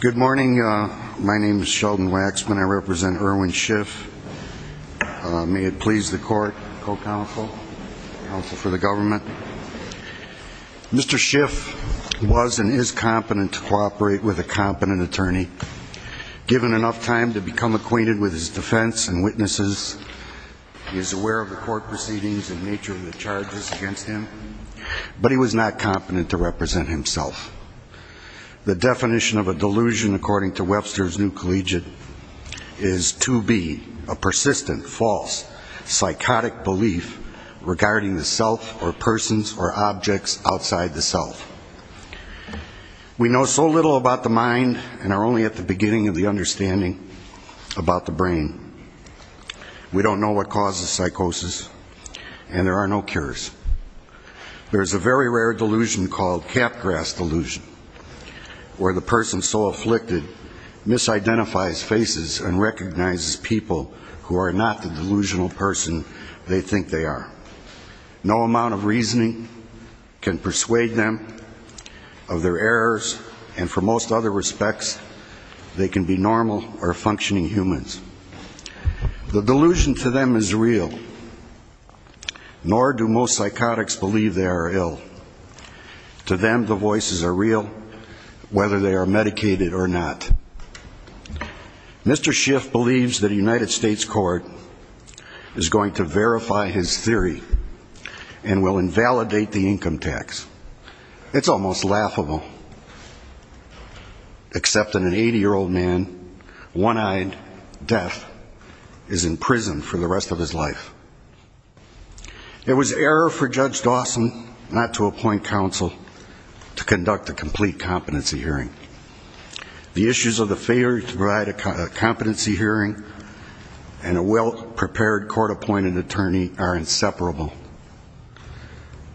Good morning. My name is Sheldon Waxman. I represent Erwin Schiff. May it please the court, co-counsel, counsel for the government. Mr. Schiff was and is competent to cooperate with a competent attorney, given enough time to become acquainted with his defense and witnesses. He is aware of the court proceedings and nature of the charges against him, but he was not competent to represent himself. The definition of a delusion, according to Webster's New Collegiate, is to be a persistent, false, psychotic belief regarding the self or persons or objects outside the self. We know so little about the mind and are only at the beginning of the understanding about the brain. We don't know what causes psychosis and there are no cures. There is a very rare delusion called cat grass delusion, where the person so afflicted misidentifies faces and recognizes people who are not the delusional person they think they are. No amount of reasoning can persuade them of their errors, and for them, the voices are real, whether they are medicated or not. Mr. Schiff believes that a United States court is going to verify his theory and will invalidate the income tax. It's almost laughable, except that an 80-year-old man, one-eyed, deaf, is in prison for the rest of his life. It was error for Judge Dawson not to appoint counsel to conduct a complete competency hearing. The issues of the failure to provide a competency hearing and a well-prepared court-appointed attorney are inseparable.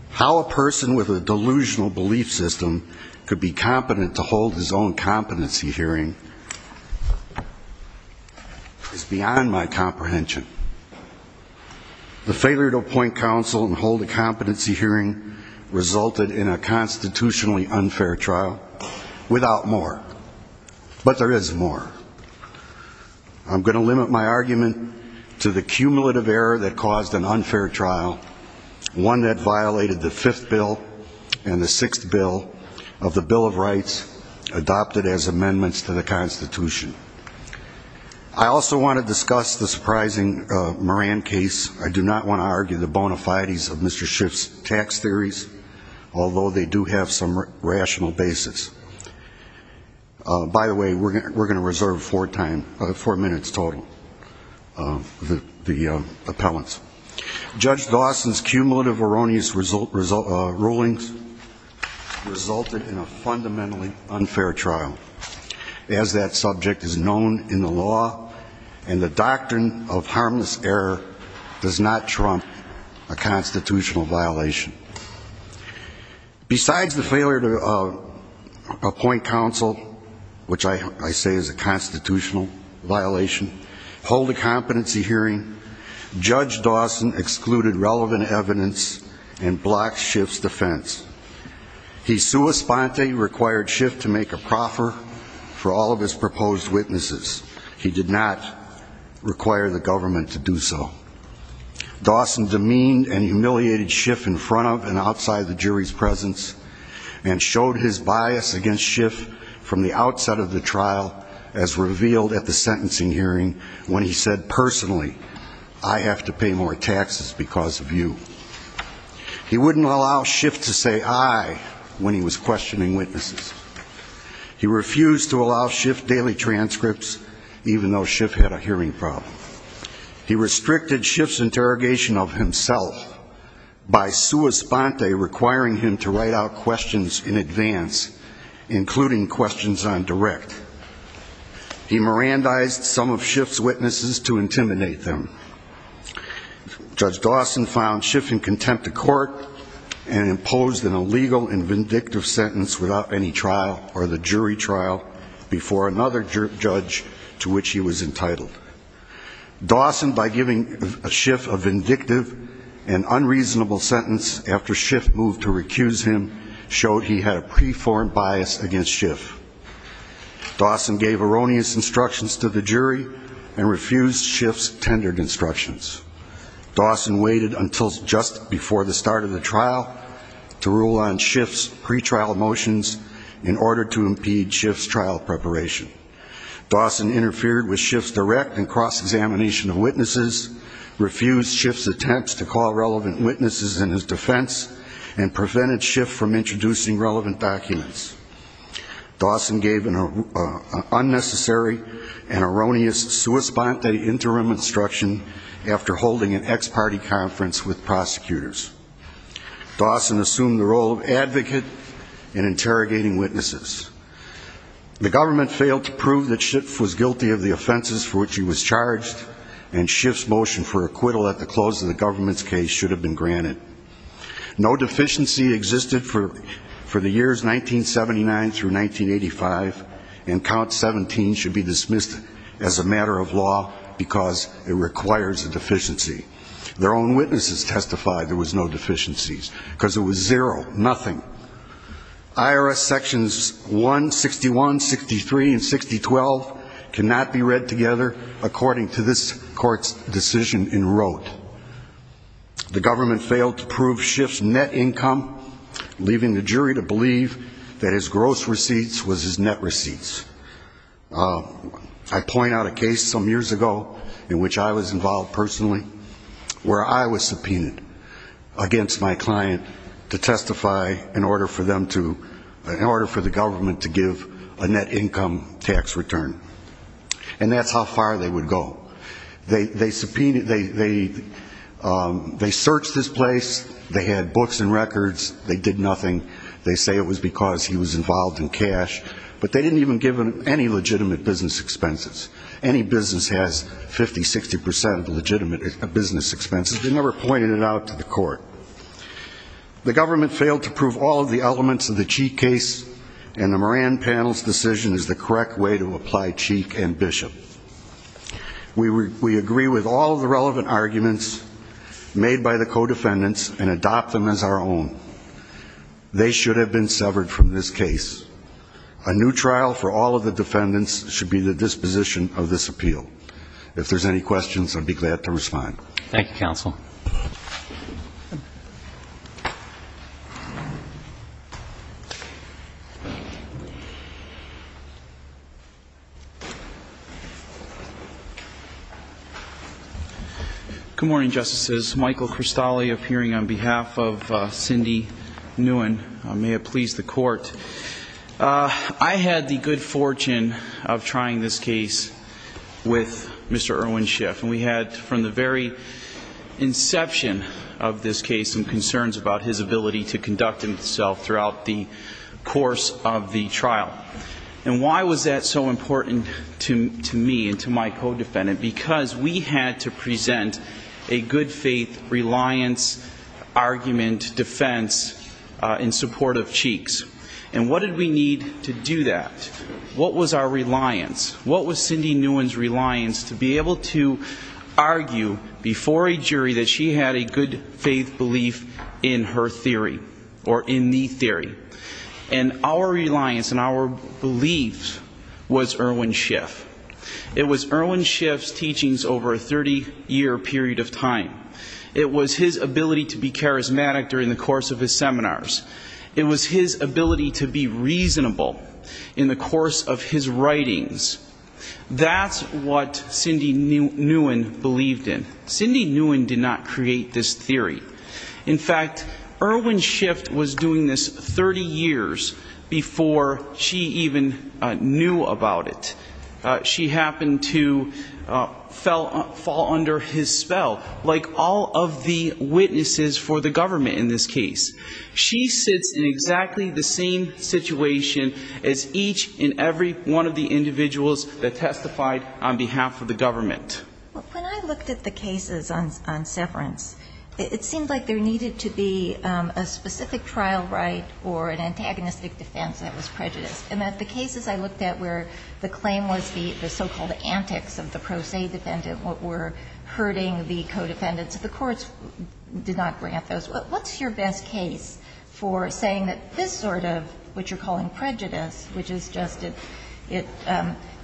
How a person with a delusional belief system could be competent to hold his own competency hearing is beyond my comprehension. The failure to appoint counsel and hold a competency hearing resulted in a constitutionally unfair trial, without more. But there is more. I'm going to limit my argument to the cumulative error that caused an unfair trial, one that violated the fifth bill and the sixth bill of the Bill of Rights, adopted as amendments to the Constitution. I also want to discuss the surprising Moran case. I do not want to argue the bona fides of Mr. Schiff's tax theories, although they do have some rational basis. By the way, we're going to reserve four minutes total of the appellants. Judge Dawson's cumulative erroneous rulings resulted in a fundamentally unfair trial, as that subject is known in the law, and the doctrine of harmless error does not trump a constitutional violation. Besides the failure to appoint counsel, which I say is a constitutional violation, hold a competency hearing, Judge Dawson excluded relevant evidence and blocked Schiff's defense. He sua sponte required Schiff to make a proffer for all of his proposed witnesses. He did not require the government to do so. Dawson demeaned and humiliated Schiff in front of and outside the jury's presence, and showed his bias against Schiff from the outset of the trial, as revealed at the sentencing hearing, when he said personally, I have to pay more taxes because of you. He wouldn't allow Schiff to say I when he was questioning witnesses. He refused to allow Schiff daily He restricted Schiff's interrogation of himself by sua sponte requiring him to write out questions in advance, including questions on direct. He Mirandized some of Schiff's witnesses to intimidate them. Judge Dawson found Schiff in contempt of court and imposed an illegal and vindictive sentence without any trial or the jury trial before another judge to which he was entitled. Dawson, by giving Schiff a vindictive and unreasonable sentence after Schiff moved to recuse him, showed he had a preformed bias against Schiff. Dawson gave erroneous instructions to the jury and refused Schiff's tendered instructions. Dawson waited until just before the start of the trial to rule on Schiff's pre-trial motions in order to impede Schiff's trial preparation. Dawson interfered with Schiff's direct and cross-examination of witnesses, refused Schiff's attempts to call relevant witnesses in his defense and prevented Schiff from introducing relevant documents. Dawson gave an unnecessary and erroneous sua sponte interim instruction after holding an ex-party conference with prosecutors. Dawson assumed the role of advocate in interrogating witnesses. The government failed to prove that Schiff was guilty of the offenses for which he was charged and Schiff's motion for acquittal at the close of the government's case should have been granted. No deficiency existed for the years 1979 through 1985 and count 17 should be dismissed as a matter of law because it requires a deficiency. Their own witnesses testified there was no nothing. IRS sections 161, 63, and 6012 cannot be read together according to this court's decision in rote. The government failed to prove Schiff's net income, leaving the jury to believe that his gross receipts was his net receipts. I point out a case some years ago in which I was involved personally, where I was subpoenaed against my client to testify in order for the government to give a net income tax return. And that's how far they would go. They searched his place, they had books and records, they did nothing. They say it was because he was involved in cash. But they didn't even give him any legitimate business expenses. Any business has 50, 60% of legitimate business expenses. They never pointed it out to the court. The government failed to prove all of the elements of the Cheek case and the Moran panel's decision is the correct way to apply Cheek and Bishop. We agree with all the relevant arguments made by the co-defendants and adopt them as our own. They should have been severed from this appeal. If there's any questions, I'd be glad to respond. Thank you, counsel. Good morning, Justices. Michael Cristale appearing on behalf of Cindy Nguyen. May it please the court. I had the good with Mr. Irwin Schiff. And we had from the very inception of this case some concerns about his ability to conduct himself throughout the course of the trial. And why was that so important to me and to my co-defendant? Because we had to present a good faith reliance argument defense in support of Cheeks. And what did we need to do that? What was our reliance to be able to argue before a jury that she had a good faith belief in her theory or in the theory? And our reliance and our beliefs was Irwin Schiff. It was Irwin Schiff's teachings over a 30-year period of time. It was his ability to be charismatic during the course of his seminars. It was his ability to be reasonable in the course of his seminars. And that's what Cindy Nguyen believed in. Cindy Nguyen did not create this theory. In fact, Irwin Schiff was doing this 30 years before she even knew about it. She happened to fall under his spell, like all of the witnesses for the government in this case. She sits in exactly the same situation as each and every one of the individuals that testified on behalf of the government. When I looked at the cases on severance, it seemed like there needed to be a specific trial right or an antagonistic defense that was prejudiced. And that the cases I looked at where the claim was the so-called antics of the pro se defendant, what were hurting the case for saying that this sort of what you're calling prejudice, which is just it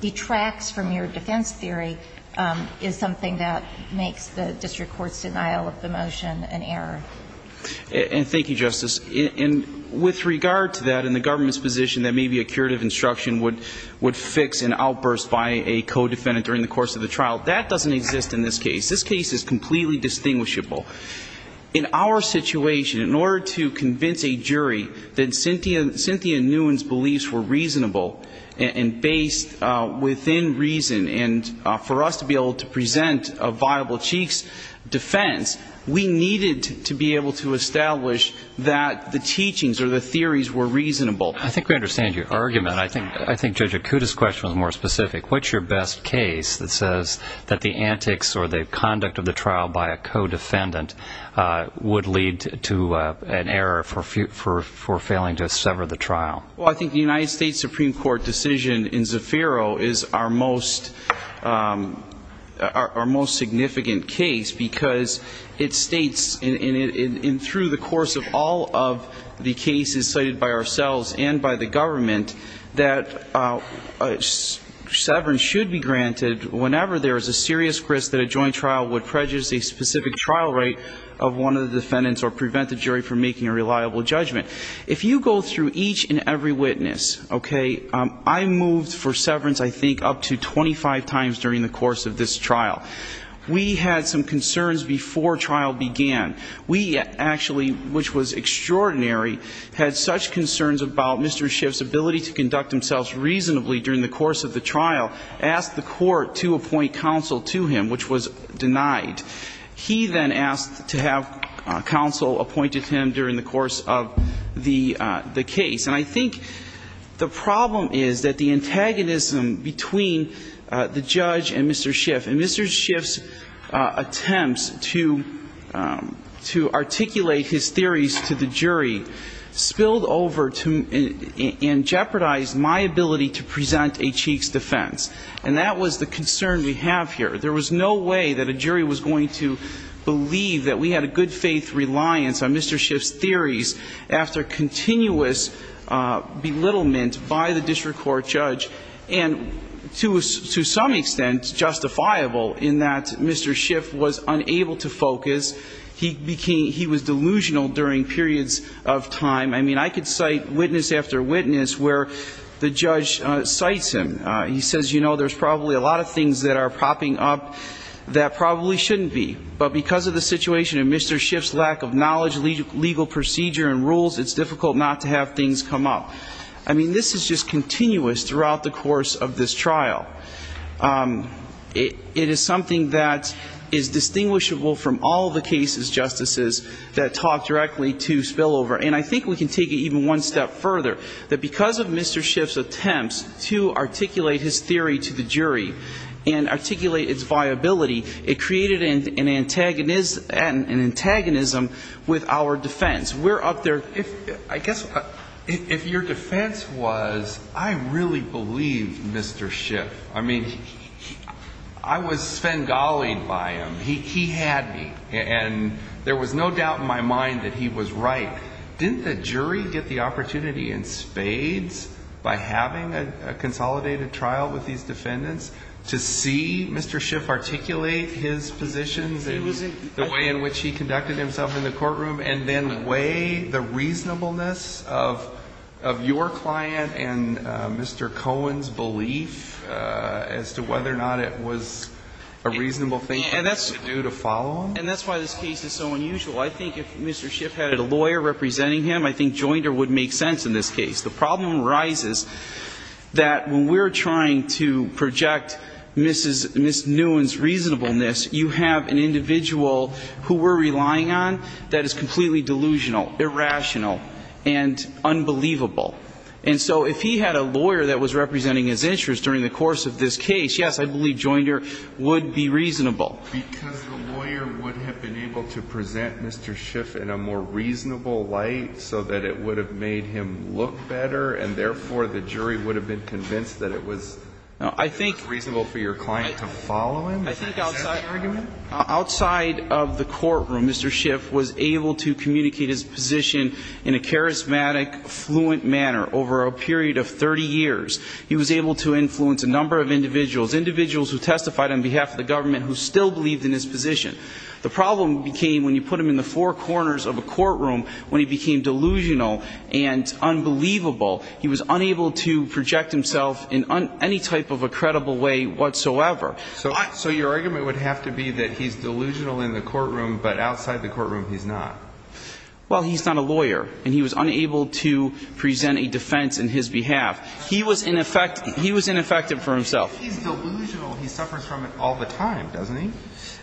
detracts from your defense theory, is something that makes the district court's denial of the motion an error. And thank you, Justice. And with regard to that, in the government's position that maybe a curative instruction would fix an outburst by a co-defendant during the course of the trial, that doesn't exist in this case. This case is completely distinguishable. In our situation, in order to convince a jury that Cynthia Nguyen's beliefs were reasonable and based within reason, and for us to be able to present a viable chief's defense, we needed to be able to establish that the teachings or the theories were reasonable. I think we understand your argument. I think Judge Akuta's question was more specific. What's your best case that says that the antics or the conduct of the trial by a co-defendant would lead to an error for failing to sever the trial? Well, I think the United States Supreme Court decision in Zafiro is our most significant case, because it states, and through the course of all of the cases cited by ourselves and by the government, that severance should be granted whenever there is a serious risk that a joint trial would prejudice a specific trial rate of one of the defendants or prevent the jury from making a reliable judgment. If you go through each and every witness, okay, I moved for severance, I think, up to 25 times during the course of this trial. We had some concerns before trial began. We actually, which was extraordinary, had such concerns about Mr. Schiff's ability to conduct himself reasonably during the course of the trial, asked the court to appoint counsel to him, which was denied. He then asked to have counsel appointed him during the course of the case. And I think the Mr. Schiff's theories to the jury spilled over and jeopardized my ability to present a Cheeks defense. And that was the concern we have here. There was no way that a jury was going to believe that we had a good-faith reliance on Mr. Schiff's theories after continuous belittlement by the district court judge, and to some extent justifiable in that Mr. Schiff was unable to focus. He became, he was delusional during periods of time. I mean, I could cite witness after witness where the judge cites him. He says, you know, there's probably a lot of things that are popping up that probably shouldn't be. But because of the situation and Mr. Schiff's lack of knowledge, legal procedure and rules, it's difficult not to have things come up. I mean, this is just continuous throughout the course of this trial. It is something that is distinguishable from all the cases, Justices, that talk directly to spillover. And I think we can take it even one step further, that because of Mr. Schiff's attempts to articulate his theory to the jury and articulate its viability, it created an antagonism with our defense. We're up there. If, I guess, if your defense was, I really believe Mr. Schiff. I mean, I was Svengali'd by him. He had me. And there was no doubt in my mind that he was right. Didn't the jury get the opportunity in spades by having a consolidated trial with these defendants to see Mr. Schiff articulate his positions and the way in which he conducted himself in the courtroom, and then weigh the reasonableness of your client and Mr. Cohen's belief as to whether or not it was a reasonable thing for him to do to follow him? And that's why this case is so unusual. I think if Mr. Schiff had a lawyer representing him, I think Joinder would make sense in this case. The problem arises that when we're trying to project Ms. Nguyen's reasonableness, you have an individual who we're relying on that is completely delusional, irrational, and unbelievable. And so if he had a lawyer that was representing his interests during the course of this case, yes, I believe Joinder would be reasonable. Because the lawyer would have been able to present Mr. Schiff in a more reasonable light so that it would have made him look better, and therefore, the jury would have been convinced that it was reasonable for your client to follow him. I think outside of the courtroom, Mr. Schiff was able to communicate his position in a charismatic, fluent manner over a period of 30 years. He was able to influence a number of individuals, individuals who testified on behalf of the government who still believed in his position. The problem became when you put him in the four corners of a courtroom, when he became delusional and unbelievable, he was unable to project himself in any type of a credible way whatsoever. So your argument would have to be that he's delusional in the courtroom, but outside the courtroom, he's not? Well, he's not a lawyer, and he was unable to present a defense in his behalf. He was ineffective for himself. He's delusional. He suffers from it all the time, doesn't he?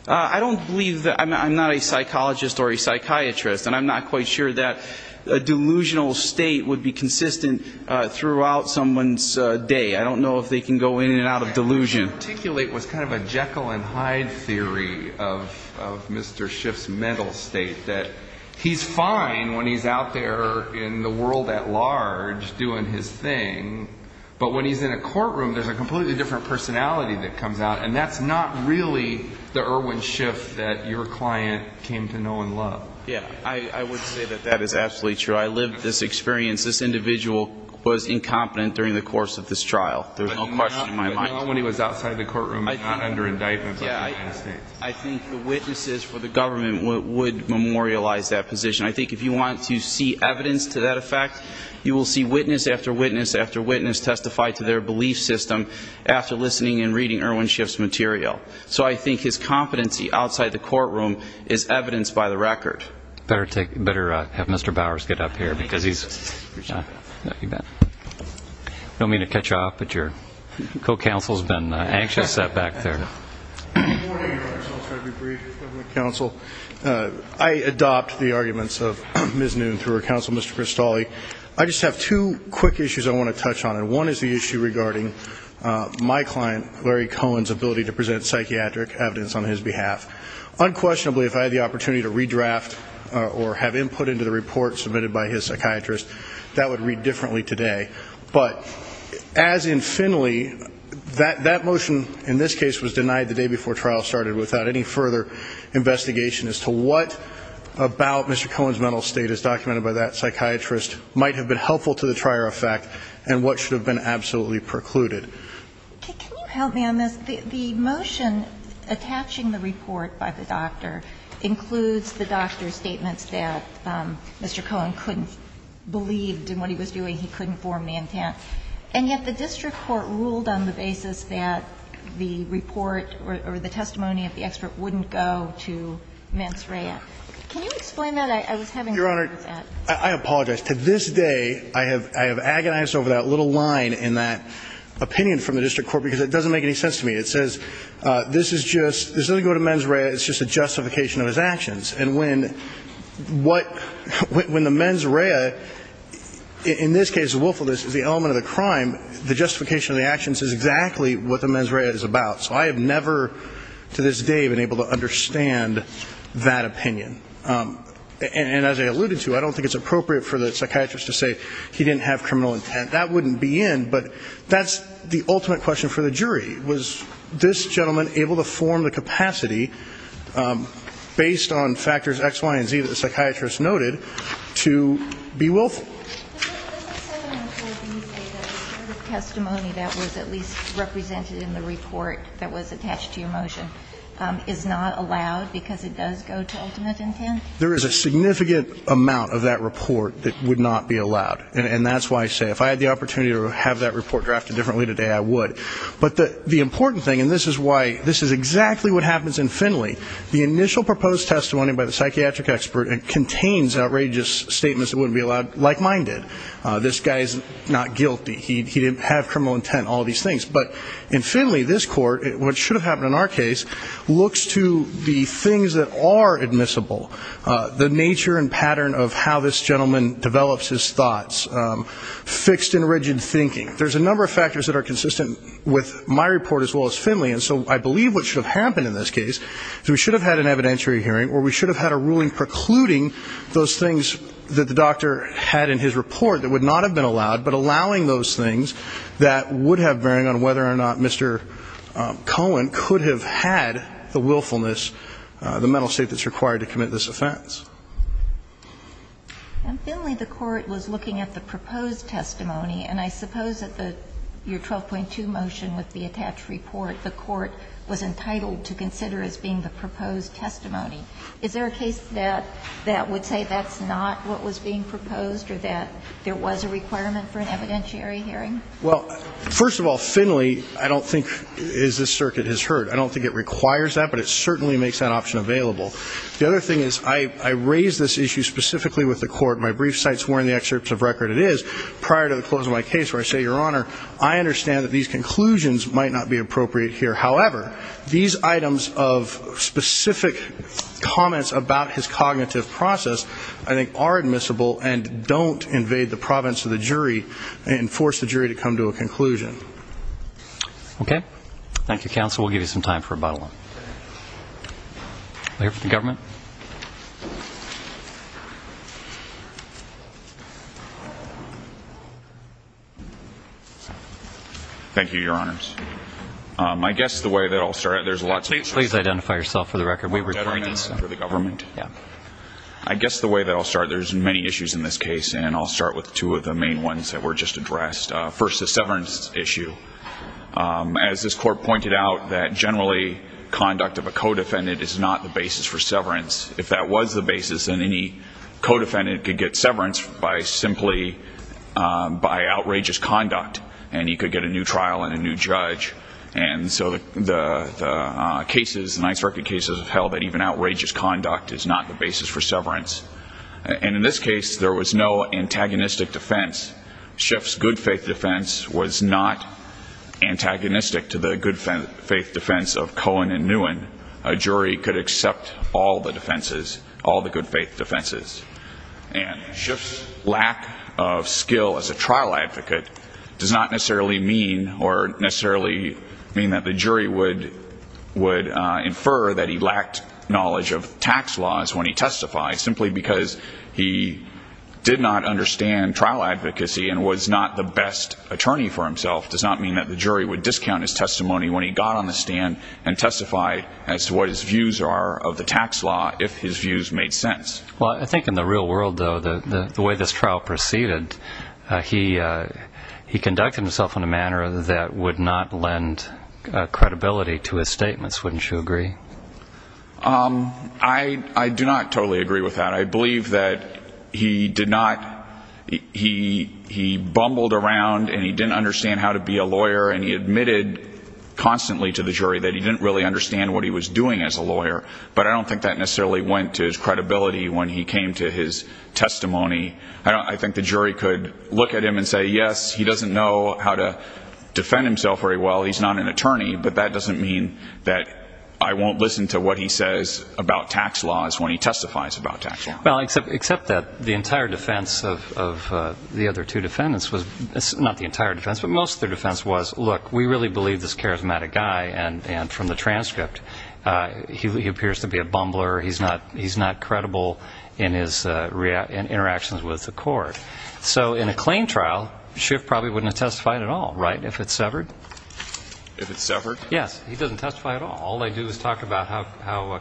I don't believe that. I'm not a psychologist or a psychiatrist, and I'm not quite sure that a delusional state would be consistent throughout someone's day. I don't know if they can go in and out of delusion. What you articulate was kind of a Jekyll and Hyde theory of Mr. Schiff's mental state, that he's fine when he's out there in the world at large doing his thing, but when he's in a courtroom, there's a completely different personality that comes out, and that's not really the Irwin Schiff that your client came to know and love. Yeah, I would say that that is absolutely true. I lived this experience. This individual was incompetent during the course of this trial. There's no question in my mind. But he went out when he was outside the courtroom, not under indictment by the United States. I think the witnesses for the government would memorialize that position. I think if you want to see evidence to that effect, you will see witness after witness after witness testify to their belief system after listening and reading Irwin Schiff's material. So I think his competency outside the courtroom is evidenced by the record. Better have Mr. Bowers get up here, because he's... I don't mean to cut you off, but your co-counsel's been anxious back there. Good morning. I'm so sorry to be brief, Mr. Government Counsel. I adopt the arguments of Ms. Noon through her counsel, Mr. Cristoli. I just have two quick issues I want to touch on, and one is the issue regarding my client, Larry Cohen's ability to present psychiatric evidence on his behalf. Unquestionably, if I had the opportunity to redraft or have input into the report submitted by his psychiatrist, that would read differently today. But as in Finley, that motion in this case was denied the day before trial started without any further investigation as to what about Mr. Cohen's mental state as documented by that psychiatrist might have been helpful to the trier effect and what should have been absolutely precluded. Can you help me on this? The motion attaching the report by the doctor includes the doctor's statements that Mr. Cohen couldn't believe in what he was doing. He couldn't form the intent. And yet the district court ruled on the basis that the report or the testimony of the expert wouldn't go to mens rea. Can you explain that? I was having trouble with that. Your Honor, I apologize. To this day, I have agonized over that little line in that opinion from the district court, because it doesn't make any sense to me. It says, this is just, this doesn't go to mens rea, it's just a justification of his actions. And when the mens rea, in this case, willfulness is the element of the crime, the justification of the actions is exactly what the mens rea is about. So I have never, to this day, been able to understand that opinion. And as I alluded to, I don't think it's appropriate for the psychiatrist to say he didn't have criminal intent. That wouldn't be in, but that's the ultimate question for the jury. Was this gentleman able to form the capacity, based on factors X, Y, and Z that the psychiatrist noted, to be willful? Does the 714B say that the testimony that was at least represented in the report that was attached to your motion is not allowed because it does go to ultimate intent? There is a significant amount of that report that would not be allowed. And that's why I say, if I had the opportunity to have that report drafted differently today, I would. But the important thing, and this is why, this is exactly what happens in Finley. The initial proposed testimony by the psychiatric expert contains outrageous statements that wouldn't be allowed, like mine did. This guy's not guilty. He didn't have criminal intent, all these things. But in Finley, this court, what should have happened in our case, looks to the things that are admissible. The nature and pattern of how this gentleman develops his thoughts. Fixed and rigid thinking. There's a number of factors that are consistent with my report, as well as Finley. And so I believe what should have happened in this case is we should have had an evidentiary hearing, or we should have had a ruling precluding those things that the doctor had in his report that would not have been allowed, but allowing those things that would have bearing on whether or not Mr. Cohen could have had the willfulness, the mental state that's required to commit this offense. And Finley, the court was looking at the proposed testimony, and I suppose that your 12.2 motion with the attached report, the court was entitled to consider as being the proposed testimony. Is there a case that would say that's not what was being proposed, or that there was a requirement for an evidentiary hearing? Well, first of all, Finley, I don't think, as this circuit has heard, I don't think it requires that, but it certainly makes that option available. The other thing is I raise this issue specifically with the court. My brief site's where in the excerpts of record it is, prior to the close of my case, where I say, Your Honor, I understand that these conclusions might not be appropriate here. However, these items of specific comments about his cognitive process, I think, are admissible and don't invade the province of the jury and force the jury to come to a conclusion. Okay. Thank you, counsel. We'll give you some time for rebuttal. I'll hear from the government. Thank you, Your Honors. I guess the way that I'll start, there's a lot of... Please identify yourself for the record. I guess the way that I'll start, there's many issues in this case, and I'll start with two of the main ones that were just addressed. First, the severance issue. As this court pointed out, that generally conduct of a co-defendant is not the basis for severance. If that was the basis, then any co-defendant could get severance by simply, by outrageous conduct. And he could get a new trial and a new judge. And so the cases, the Ninth Circuit cases have held that even outrageous conduct is not the basis for severance. And in this case, there was no antagonistic defense. Schiff's good faith defense was not antagonistic to the good faith defense of Cohen and Nguyen. A jury could accept all the defenses, all the good faith defenses. And Schiff's lack of skill as a trial advocate does not necessarily mean that the jury would infer that he lacked knowledge of tax laws when he testified, simply because he did not understand trial advocacy and was not the best attorney for himself does not mean that the jury would discount his testimony when he got on the stand and testified as to what his views are of the tax law, if his views made sense. Well, I think in the real world, though, the way this trial proceeded, he conducted himself in a manner that would not lend credibility to his statements. Wouldn't you agree? I do not totally agree with that. I believe that he did not, he bumbled around and he didn't understand how to be a lawyer and he admitted constantly to the jury that he didn't really understand what he was doing as a lawyer, but I don't think that necessarily went to his credibility when he came to his testimony. I think the jury could look at him and say, yes, he doesn't know how to defend himself very well, he's not an attorney, but that doesn't mean that I won't listen to what he says about tax laws when he testifies about tax law. Well, except that the entire defense of the other two defendants, not the entire defense, but most of their defense was, look, we really believe this charismatic guy and from the transcript, he appears to be a bumbler, he's not credible in his interactions with the court. So in a claim trial, Schiff probably wouldn't have testified at all, right, if it's severed? If it's severed? Yes, he doesn't testify at all. All they do is talk about how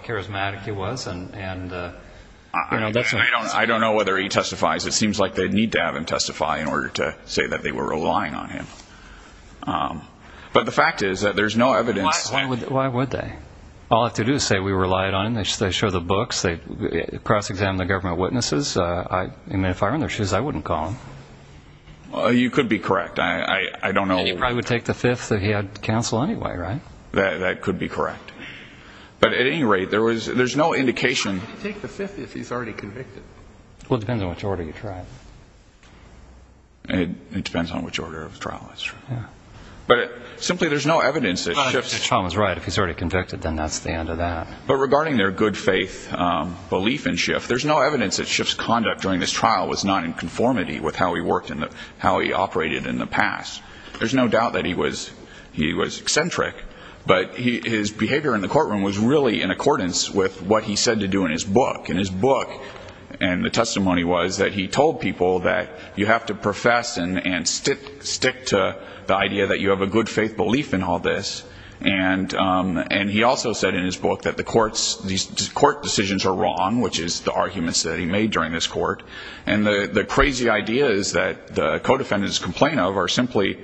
charismatic he was and, you know... I don't know whether he testifies. It seems like they'd need to have him testify in order to say that they were relying on him. But the fact is that there's no evidence... Why would they? All they have to do is say, we relied on him, they show the books, they cross-examine the government witnesses. I mean, if I were in their shoes, I wouldn't call them. You could be correct. I don't know... And he probably would take the fifth if he had counsel anyway, right? That could be correct. But at any rate, there's no indication... Why would he take the fifth if he's already convicted? Well, it depends on which order you try it. It depends on which order of the trial it's from. But regarding their good faith belief in Schiff, there's no evidence that Schiff's conduct during this trial was not in conformity with how he operated in the past. There's no doubt that he was eccentric. But his behavior in the courtroom was really in accordance with what he said to do in his book. And the testimony was that he told people that you have to profess and stick to the idea that you have a good faith belief in all this. And he also said in his book that these court decisions are wrong, which is the arguments that he made during this court. And the crazy ideas that the co-defendants complain of are simply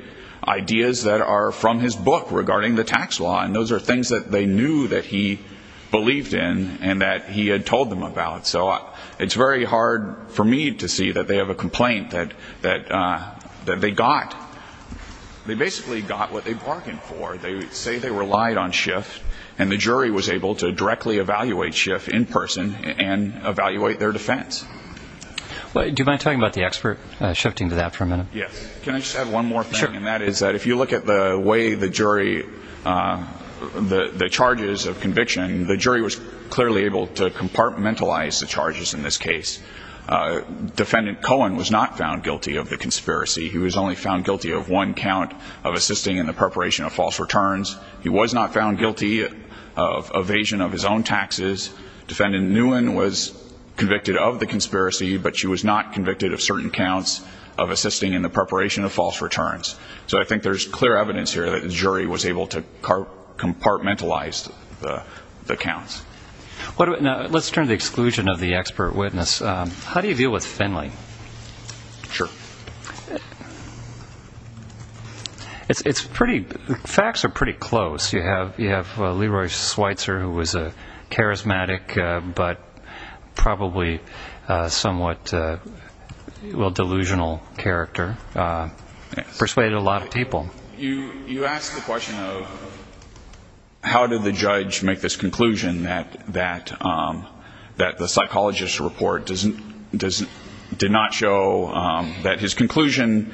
ideas that are from his book regarding the tax law. And those are things that they knew that he believed in and that he had told them about. So it's very hard for me to see that they have a complaint that they got. They basically got what they bargained for. They say they relied on Schiff, and the jury was able to directly evaluate Schiff in person and evaluate their defense. Do you mind talking about the expert shifting to that for a minute? Can I just add one more thing, and that is that if you look at the way the jury the charges of conviction, the jury was clearly able to compartmentalize the charges in this case. Defendant Cohen was not found guilty of the conspiracy. He was only found guilty of one count of assisting in the preparation of false returns. He was not found guilty of evasion of his own taxes. Defendant Nguyen was convicted of the conspiracy, but she was not convicted of certain counts of assisting in the preparation of false returns. So I think there's clear evidence here that the jury was able to compartmentalize the counts. Let's turn to the exclusion of the expert witness. How do you deal with Finley? It's pretty... Leroy Schweitzer, who was a charismatic, but probably somewhat delusional character, persuaded a lot of people. You ask the question of how did the judge make this conclusion that the psychologist's report did not show that his conclusion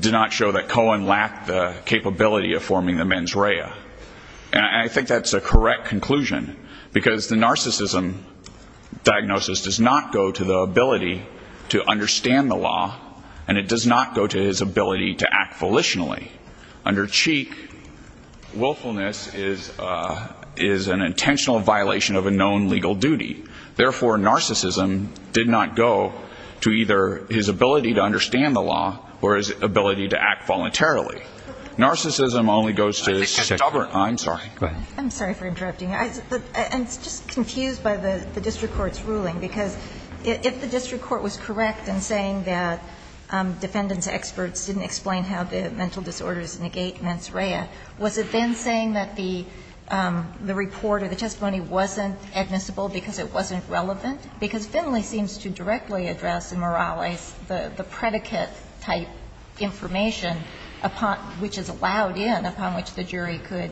did not show that Cohen lacked the capability of forming the mens rea. And I think that's a correct conclusion, because the narcissism diagnosis does not go to the ability to understand the law, and it does not go to his ability to act volitionally. Under Cheek, willfulness is an intentional violation of a known legal duty. Therefore, narcissism did not go to the ability to understand the law. I'm sorry. Go ahead. I'm sorry for interrupting. I'm just confused by the district court's ruling, because if the district court was correct in saying that defendants' experts didn't explain how the mental disorders negate mens rea, was it then saying that the report or the testimony wasn't admissible because it wasn't relevant? Because Finley seems to directly address in Morales the predicate-type information which is allowed in, upon which the jury could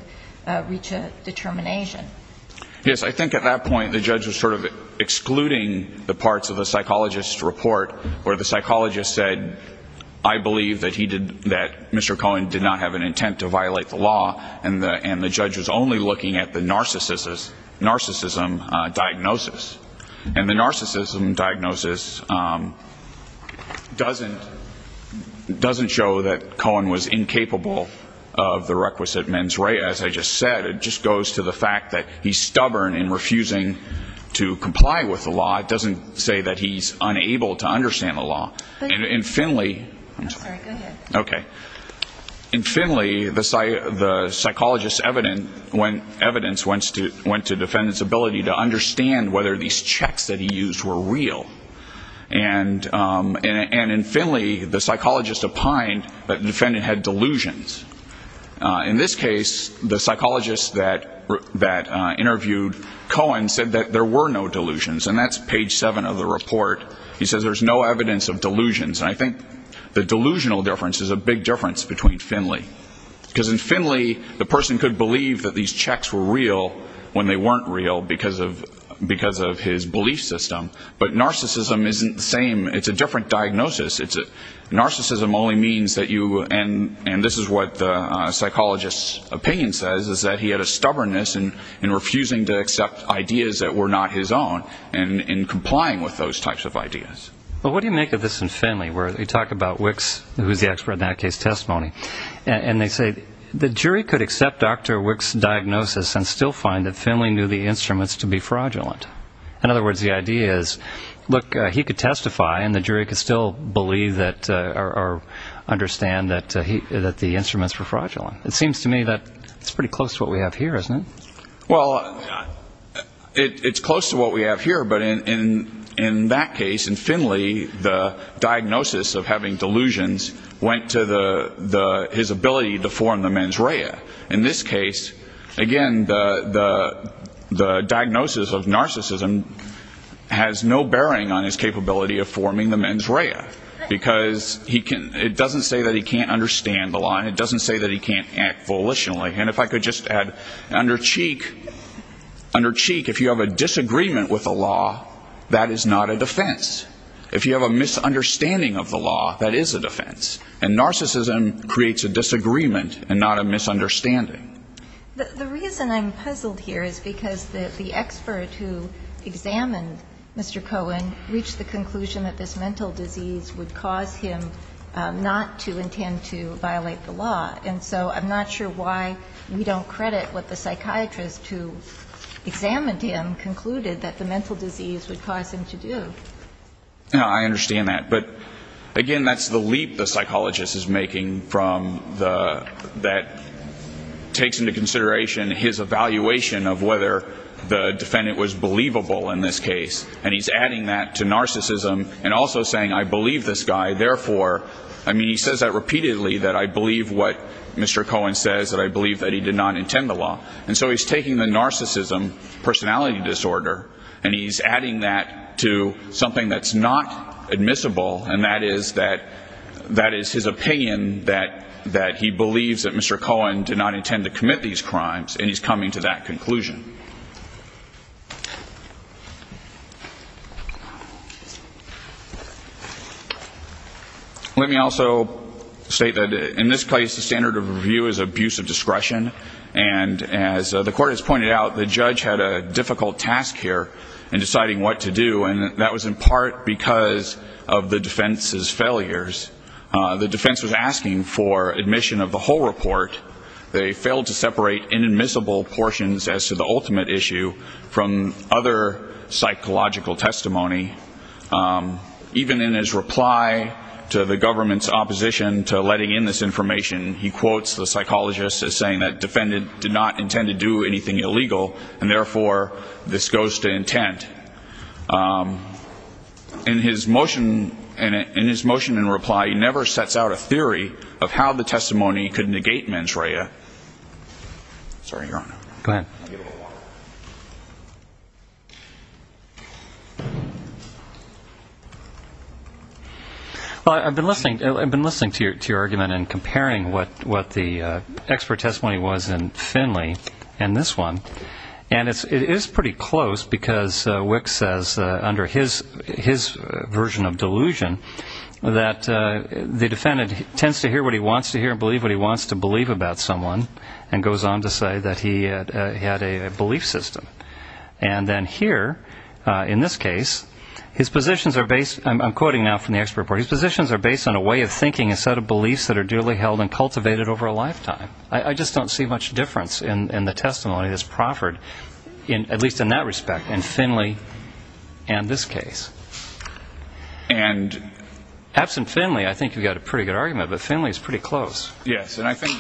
reach a determination. Yes, I think at that point the judge was sort of excluding the parts of the psychologist's report where the psychologist said I believe that Mr. Cohen did not have an intent to violate the law, and the judge was only looking at the narcissism diagnosis. And the narcissism diagnosis doesn't show that Cohen was incapable of the requisite mens rea, as I just said. It just goes to the fact that he's stubborn in refusing to comply with the law. It doesn't say that he's unable to understand the law. In Finley the psychologist's evidence went to defendants' ability to understand whether these checks that he used were real. And in Finley, the psychologist opined that the defendant had delusions. In this case, the psychologist that interviewed Cohen said that there were no delusions. And that's page 7 of the report. He says there's no evidence of delusions. And I think the delusional difference is a big difference between Finley. Because in Finley, the person could believe that these checks were real when they weren't real, because of his belief system. But narcissism isn't the same. It's a different diagnosis. Narcissism only means that you, and this is what the psychologist's opinion says, is that he had a stubbornness in refusing to accept ideas that were not his own, and in complying with those types of ideas. Well, what do you make of this in Finley, where they talk about Wicks, who's the expert in that case, testimony. And they say, the jury could accept Dr. Wicks' diagnosis and still find that Finley knew the instruments to be fraudulent. In other words, the idea is, look, he could testify and the jury could still believe or understand that the instruments were fraudulent. It seems to me that it's pretty close to what we have here, isn't it? Well, it's close to what we have here, but in that case, in Finley, the diagnosis of having delusions went to his ability to form the mens rea. In this case, again, the diagnosis of narcissism has no bearing on his capability of forming the mens rea, because it doesn't say that he can't understand the law, and it doesn't say that he can't act volitionally. And if I could just add, under cheek, if you have a disagreement with the law, that is not a defense. And narcissism creates a disagreement and not a misunderstanding. The reason I'm puzzled here is because the expert who examined Mr. Cohen reached the conclusion that this mental disease would cause him not to intend to violate the law. And so I'm not sure why we don't credit what the psychiatrist who examined him concluded that the mental disease would cause him to do. I understand that. But, again, that's the leap the psychologist is making that takes into consideration his evaluation of whether the defendant was believable in this case. And he's adding that to narcissism and also saying, I believe this guy, therefore, I mean, he says that repeatedly that I believe what Mr. Cohen says, that I believe that he did not intend the law. And so he's taking the narcissism personality disorder and he's adding that to something that's not admissible and that is his opinion that he believes that Mr. Cohen did not intend to commit these crimes and he's coming to that conclusion. Let me also state that in this case the standard of review is abuse of discretion. And as the court has pointed out, the defendants' failure in deciding what to do, and that was in part because of the defense's failures. The defense was asking for admission of the whole report. They failed to separate inadmissible portions as to the ultimate issue from other psychological testimony. Even in his reply to the government's opposition to letting in this information, he quotes the psychologist as saying that defendant did not intend to do anything illegal and therefore this goes to intent. In his motion in reply, he never sets out a theory of how the testimony could negate mens rea. Sorry, Your Honor. Well, I've been listening to your argument and comparing what the expert testimony was in this one, and it is pretty close because Wick says under his version of delusion that the defendant tends to hear what he wants to hear and believe what he wants to believe about someone and goes on to say that he had a belief system. And then here, in this case, his positions are based, I'm quoting now from the expert report, his positions are based on a way of thinking instead of beliefs that are duly held and cultivated over a lifetime. I just don't see much difference in the testimony that's proffered, at least in that respect, in Finley and this case. Absent Finley, I think you've got a pretty good argument, but Finley is pretty close. Yes, and I think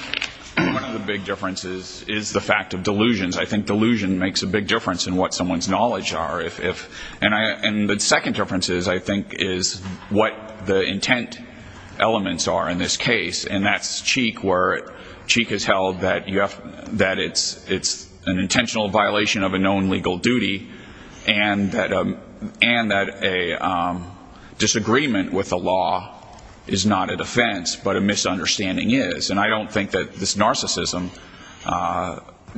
one of the big differences is the fact of delusions. I think delusion makes a big difference in what someone's knowledge are. And the second difference, I think, is what the intent elements are in this case, and that's Cheek where Cheek has held that it's an intentional violation of a known legal duty and that a disagreement with the law is not a defense, but a misunderstanding is. And I don't think that this narcissism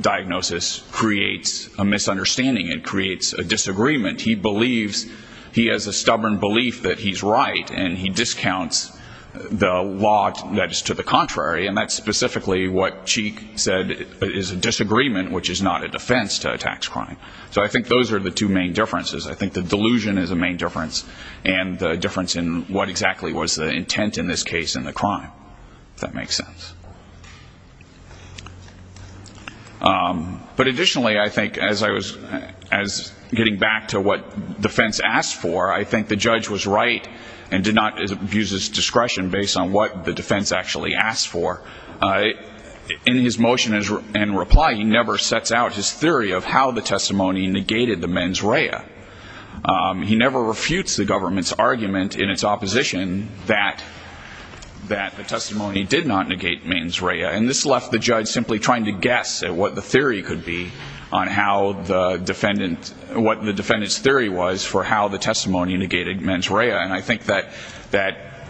diagnosis creates a misunderstanding. It creates a disagreement. He believes, he has a stubborn belief that he's right, and he discounts the law that's to the contrary, and that's specifically what Cheek said is a disagreement, which is not a defense to a tax crime. So I think those are the two main differences. I think the delusion is a main difference and the difference in what exactly was the intent in this case and the crime, if that makes sense. But additionally, I think, as I was getting back to what defense asked for, I think the judge was right and did not abuse his discretion based on what the defense actually asked for. In his motion and reply, he never sets out his theory of how the testimony negated the mens rea. He never refutes the government's argument in its opposition that the testimony did not negate mens rea. And this left the judge simply trying to guess at what the theory could be on how the defendant, what the defendant's theory was for how the testimony negated mens rea. And I think that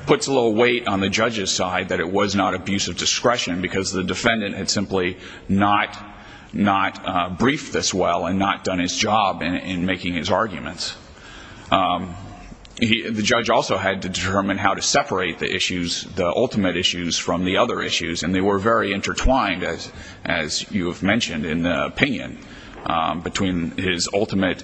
puts a little weight on the judge's side that it was not abuse of discretion because the defendant had simply not briefed this well and not done his job in making his arguments. The judge also had to determine how to separate the issues, the ultimate issues, from the other issues, and they were very intertwined, as you have mentioned in the opinion, between his ultimate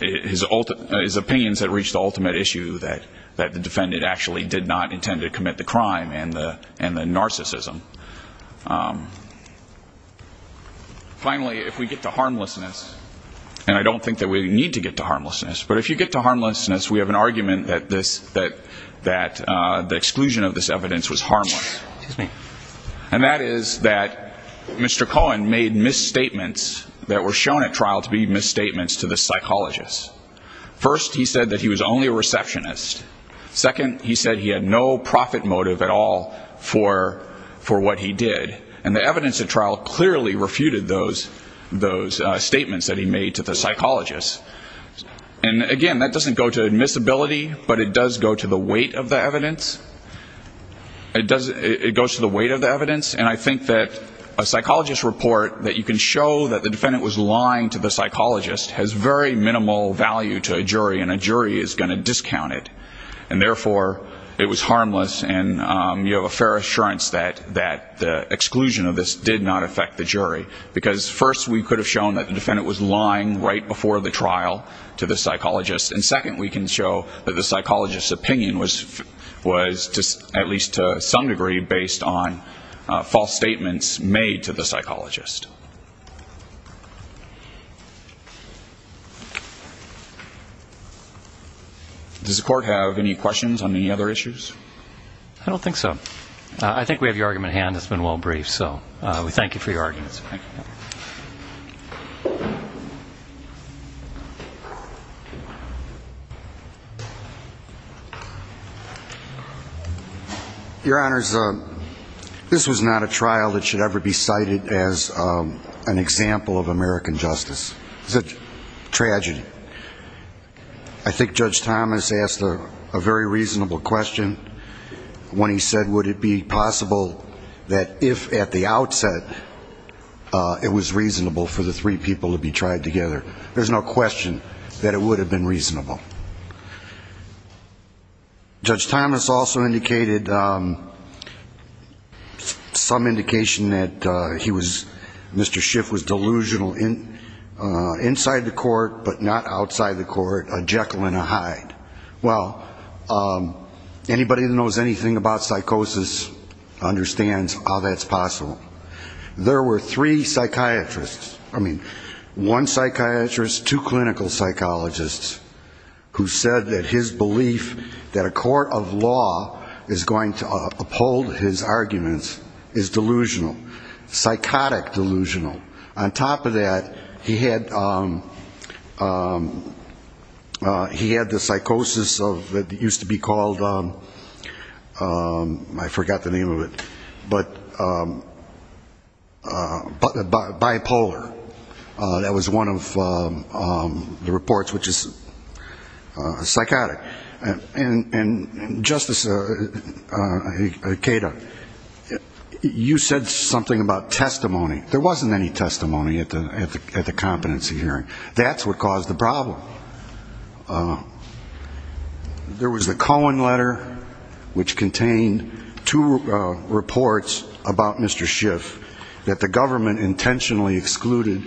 his opinions that reached the ultimate issue that the defendant actually did not intend to commit the crime and the narcissism. Finally, if we get to harmlessness, and I don't think that we need to get to harmlessness, but if you get to harmlessness, we have an argument that the exclusion of this evidence was harmless. And that is that Mr. Cohen made misstatements that were shown at trial to be misstatements to the psychologist. First, he said that he was only a receptionist. Second, he said he had no profit motive at all for what he did. And the evidence at trial clearly refuted those statements that he made to the psychologist. And again, that doesn't go to admissibility, but it does go to the weight of the evidence. It goes to the weight of the evidence, and I think that a psychologist's report that you can show that the defendant was lying to the psychologist has very minimal value to a jury, and a jury is going to discount it. And therefore, it was harmless and you have a fair assurance that the exclusion of this did not affect the jury. Because first, we could have shown that the defendant was lying right before the trial to the psychologist. And second, we can show that the psychologist's opinion was, at least to some degree, based on false statements made to the psychologist. Does the court have any questions on any other issues? I don't think so. I think we have your argument at hand. It's been well briefed, so we thank you for your argument. Your Honors, this was not a trial that should ever be cited as an example of American justice. It's a tragedy. I think Judge Thomas asked a very reasonable question when he said, would it be possible that if, at the outset, it was reasonable for the three people to be tried together. There's no question that it would have been reasonable. Judge Thomas also indicated some indication that he was, Mr. Schiff was delusional inside the court, but not outside the court, a Jekyll and a Hyde. Well, anybody who knows anything about psychosis understands how that's possible. There were three psychiatrists, I mean, one psychiatrist, two clinical psychologists, who said that his belief that a court of law is going to uphold his arguments is delusional, psychotic delusional. On top of that, he had the psychosis of, it used to be called I forgot the name of it, but bipolar. That was one of the reports, which is psychotic. And Justice Cato, you said something about testimony. There wasn't any testimony at the competency hearing. That's what caused the problem. There was the Cohen letter, which contained two reports about Mr. Schiff that the government intentionally excluded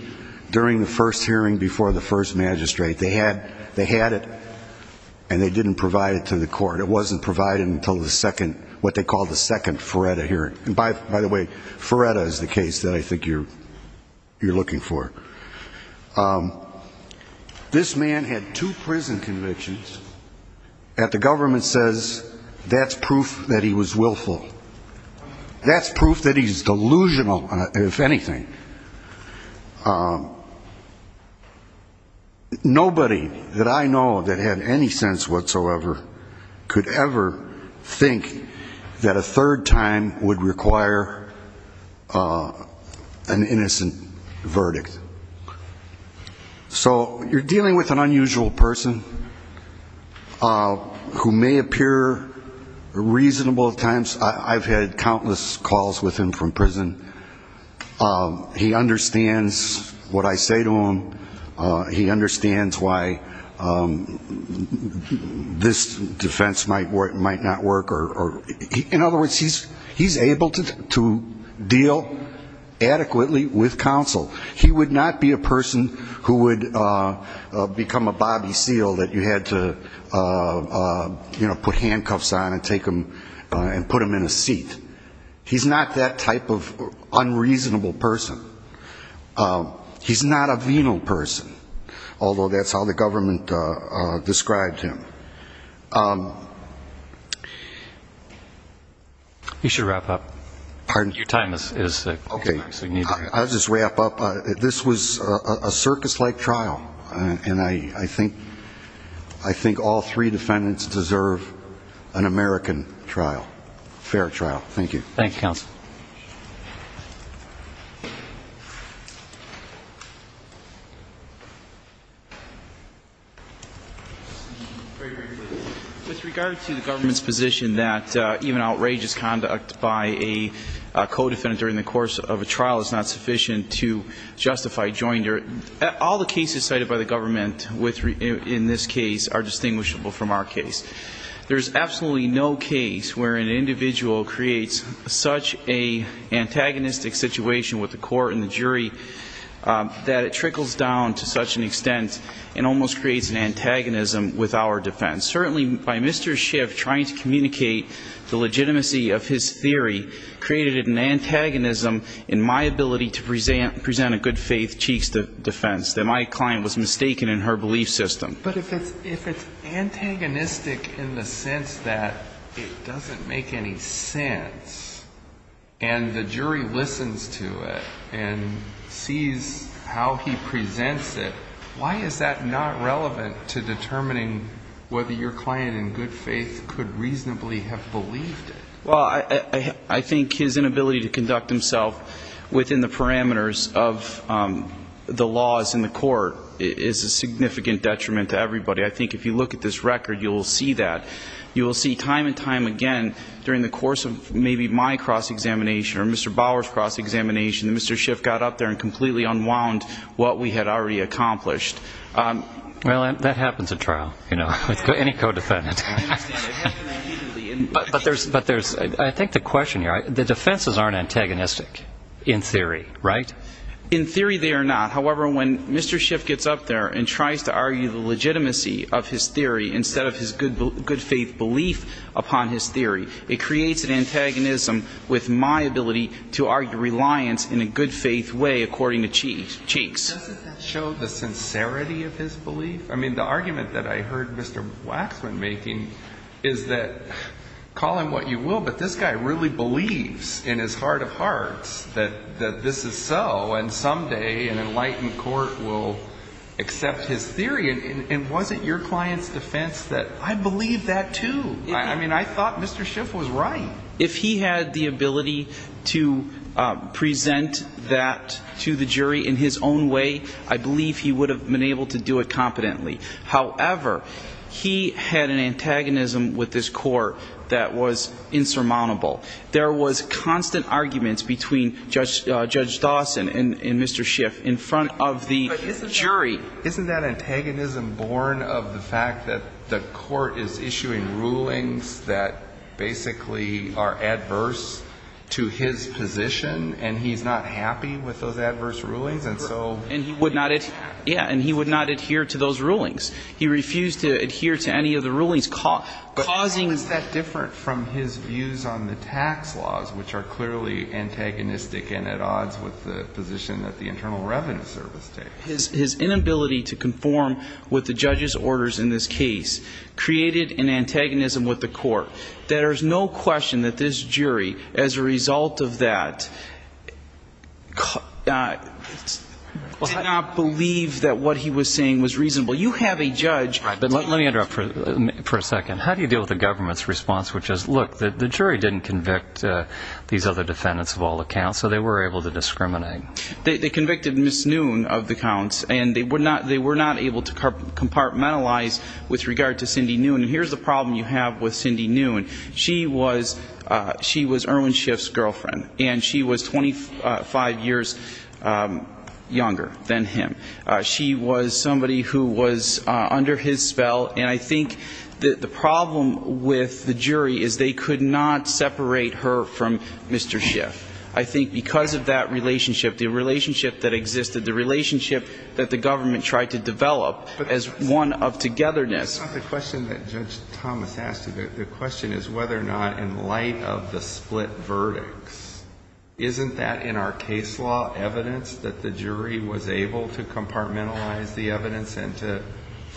during the first hearing before the first magistrate. They had it, and they didn't provide it to the court. It wasn't provided until the second, what they called the second Feretta hearing. By the way, Feretta is the case that I think you're looking for. This man had two prison convictions, and the government says that's proof that he was willful. That's proof that he's delusional, if anything. Nobody that I know that had any sense whatsoever could ever think that a third time would require an innocent verdict. So you're dealing with an unusual person who may appear reasonable at times. I've had countless calls with him from prison. He understands what I say to him. He understands why this defense might not work. In other words, he's able to deal adequately with counsel. He would not be a person who would become a Bobby Seale that you had to put handcuffs on and put him in a seat. He's not that type of unreasonable person. He's not a venal person, although that's how the government described him. You should wrap up. Your time is up. This was a circus-like trial, and I think all three defendants deserve an American trial. Fair trial. Thank you. With regard to the government's position that even outrageous conduct by a co-defendant during the course of a trial is not sufficient to justify joinder, all the cases cited by the government in this case are distinguishable from our case. There's absolutely no case where an individual creates such an antagonistic situation with the court and the jury that it trickles down to such an extent and almost creates an antagonism with our defense. Certainly, by Mr. Schiff trying to communicate the legitimacy of his theory created an antagonism in my ability to present a good-faith cheek's defense, that my client was mistaken in her belief system. But if it's antagonistic in the sense that it doesn't make any sense and the jury listens to it and sees how he presents it, why is that not relevant to determining whether your client in good faith could reasonably have believed it? Well, I think his inability to conduct himself within the parameters of the laws in the court is a significant detriment to everybody. I think if you look at this record, you'll see that. You'll see time and time again during the course of maybe my cross-examination or Mr. Bauer's cross-examination that Mr. Schiff got up there and completely unwound what we had already accomplished. Well, that happens at trial, you know, with any co-defendant. But there's, I think the question here, the defenses aren't antagonistic in theory, right? In theory, they are not. However, when Mr. Schiff gets up there and tries to argue the legitimacy of his theory instead of his good faith belief upon his theory, it creates an antagonism with my ability to argue reliance in a good faith way according to Cheeks. Doesn't that show the sincerity of his belief? I mean, the argument that I heard Mr. Waxman making is that call him what you will, but this guy really believes in his heart of hearts that this is so and someday an enlightened court will accept his theory. And was it your client's defense that I believe that too? I mean, I thought Mr. Schiff was right. If he had the ability to present that to the jury in his own way, I believe he would have been able to do it competently. However, he had an antagonism with his court that was insurmountable. There was constant arguments between Judge Dawson and Mr. Schiff in front of the jury. Isn't that antagonism born of the fact that the court is issuing rulings that basically are adverse to his position and he's not happy with those adverse rulings and so he would not adhere to those rulings. He refused to adhere to any of the rulings causing him to fail. How is that different from his views on the tax laws which are clearly antagonistic and at odds with the position that the Internal Revenue Service takes? His inability to conform with the judge's orders in this case created an antagonism with the court that there's no question that this jury, as a result of that, did not believe that what he was saying was reasonable. You have a judge but let me interrupt for a second. How do you deal with the government's response which is look, the jury didn't convict these other defendants of all accounts so they were able to discriminate. They convicted Ms. Noon of the counts and they were not able to compartmentalize with regard to Cindy Noon. Here's the problem you have with Cindy Noon. She was Irwin Schiff's girlfriend and she was 25 years younger than him. She was somebody who was under his spell and I think that the problem with the jury is they could not separate her from Mr. Schiff. I think because of that relationship, the relationship that existed, the relationship that the government tried to develop as one of togetherness. It's not the question that Judge Thomas asked you. The question is whether or not in light of the split verdicts, isn't that in our case law evidence that the jury was able to compartmentalize the evidence and to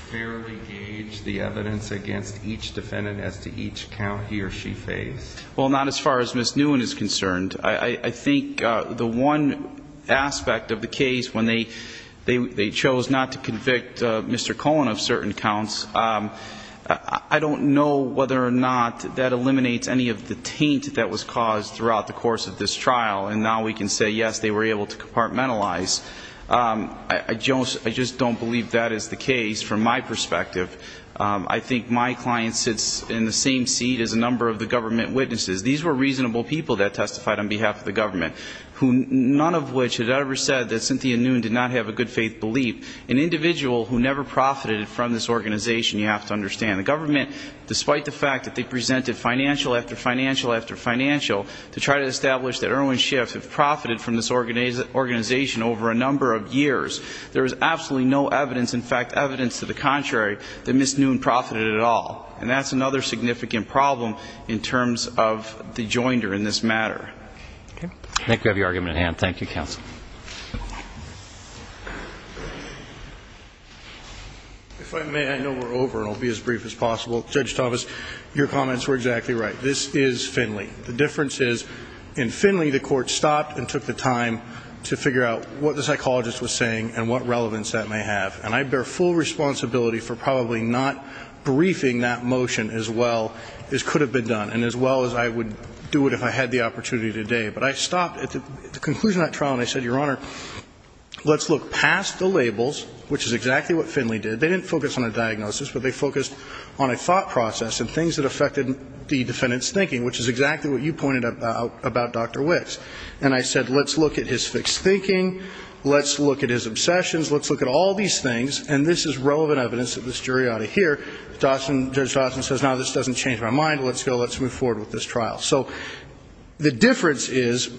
fairly gauge the evidence against each defendant as to each account he or she faced? Well not as far as Ms. Noon is concerned. I think the one aspect of the case when they chose not to convict Mr. Cohen of certain counts, I don't know whether or not that eliminates any of the taint that was caused throughout the course of this trial and now we can say yes, they were able to convict him. I just don't believe that is the case from my perspective. I think my client sits in the same seat as a number of the government witnesses. These were reasonable people that testified on behalf of the government. None of which had ever said that Cynthia Noon did not have a good faith belief. An individual who never profited from this organization, you have to understand. The government, despite the fact that they presented financial after financial after financial to try to establish that Irwin Schiff had profited from this organization over a number of years, there is absolutely no evidence, in fact evidence to the contrary, that Ms. Noon profited at all. And that's another significant problem in terms of the joinder in this matter. Thank you. I think we have your argument at hand. Thank you counsel. If I may, I know we're over and I'll be as brief as possible. Judge Tavis, your comments were exactly right. This is Finley. The difference is in Finley the court stopped and took the time to figure out what the psychologist was saying and what relevance that may have. And I bear full responsibility for probably not briefing that motion as well as could have been done and as well as I would do it if I had the opportunity today. But I stopped at the conclusion of that trial and I said, Your Honor, let's look past the labels which is exactly what Finley did. They didn't focus on a diagnosis but they focused on a thought process and things that affected the defendant's thinking which is exactly what you did. And I said let's look at his fixed thinking. Let's look at his obsessions. Let's look at all these things. And this is relevant evidence that this jury ought to hear. Judge Dawson says no, this doesn't change my mind. Let's go. Let's move forward with this trial. So the difference is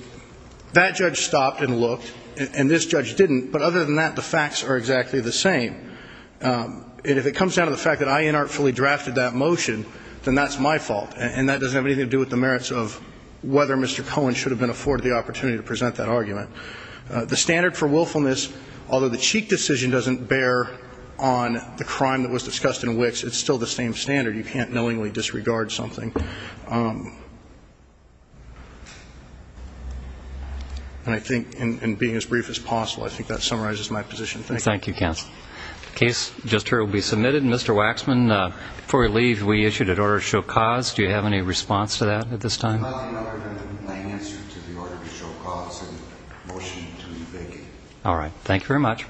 that judge stopped and looked and this judge didn't. But other than that the facts are exactly the same. And if it comes down to the fact that I inartfully drafted that motion, then that's my fault. And that doesn't have anything to do with the merits of whether Mr. Cohen should have been afforded the opportunity to present that argument. The standard for willfulness, although the Cheek decision doesn't bear on the crime that was discussed in Wicks, it's still the same standard. You can't knowingly disregard something. And I think in being as brief as possible, I think that summarizes my position. Thank you. Thank you, counsel. The case just heard will be submitted. Mr. Waxman, before we leave, we issued an order to show cause. Do you have any answer to the order to show cause in the motion to evict? All right. Thank you very much.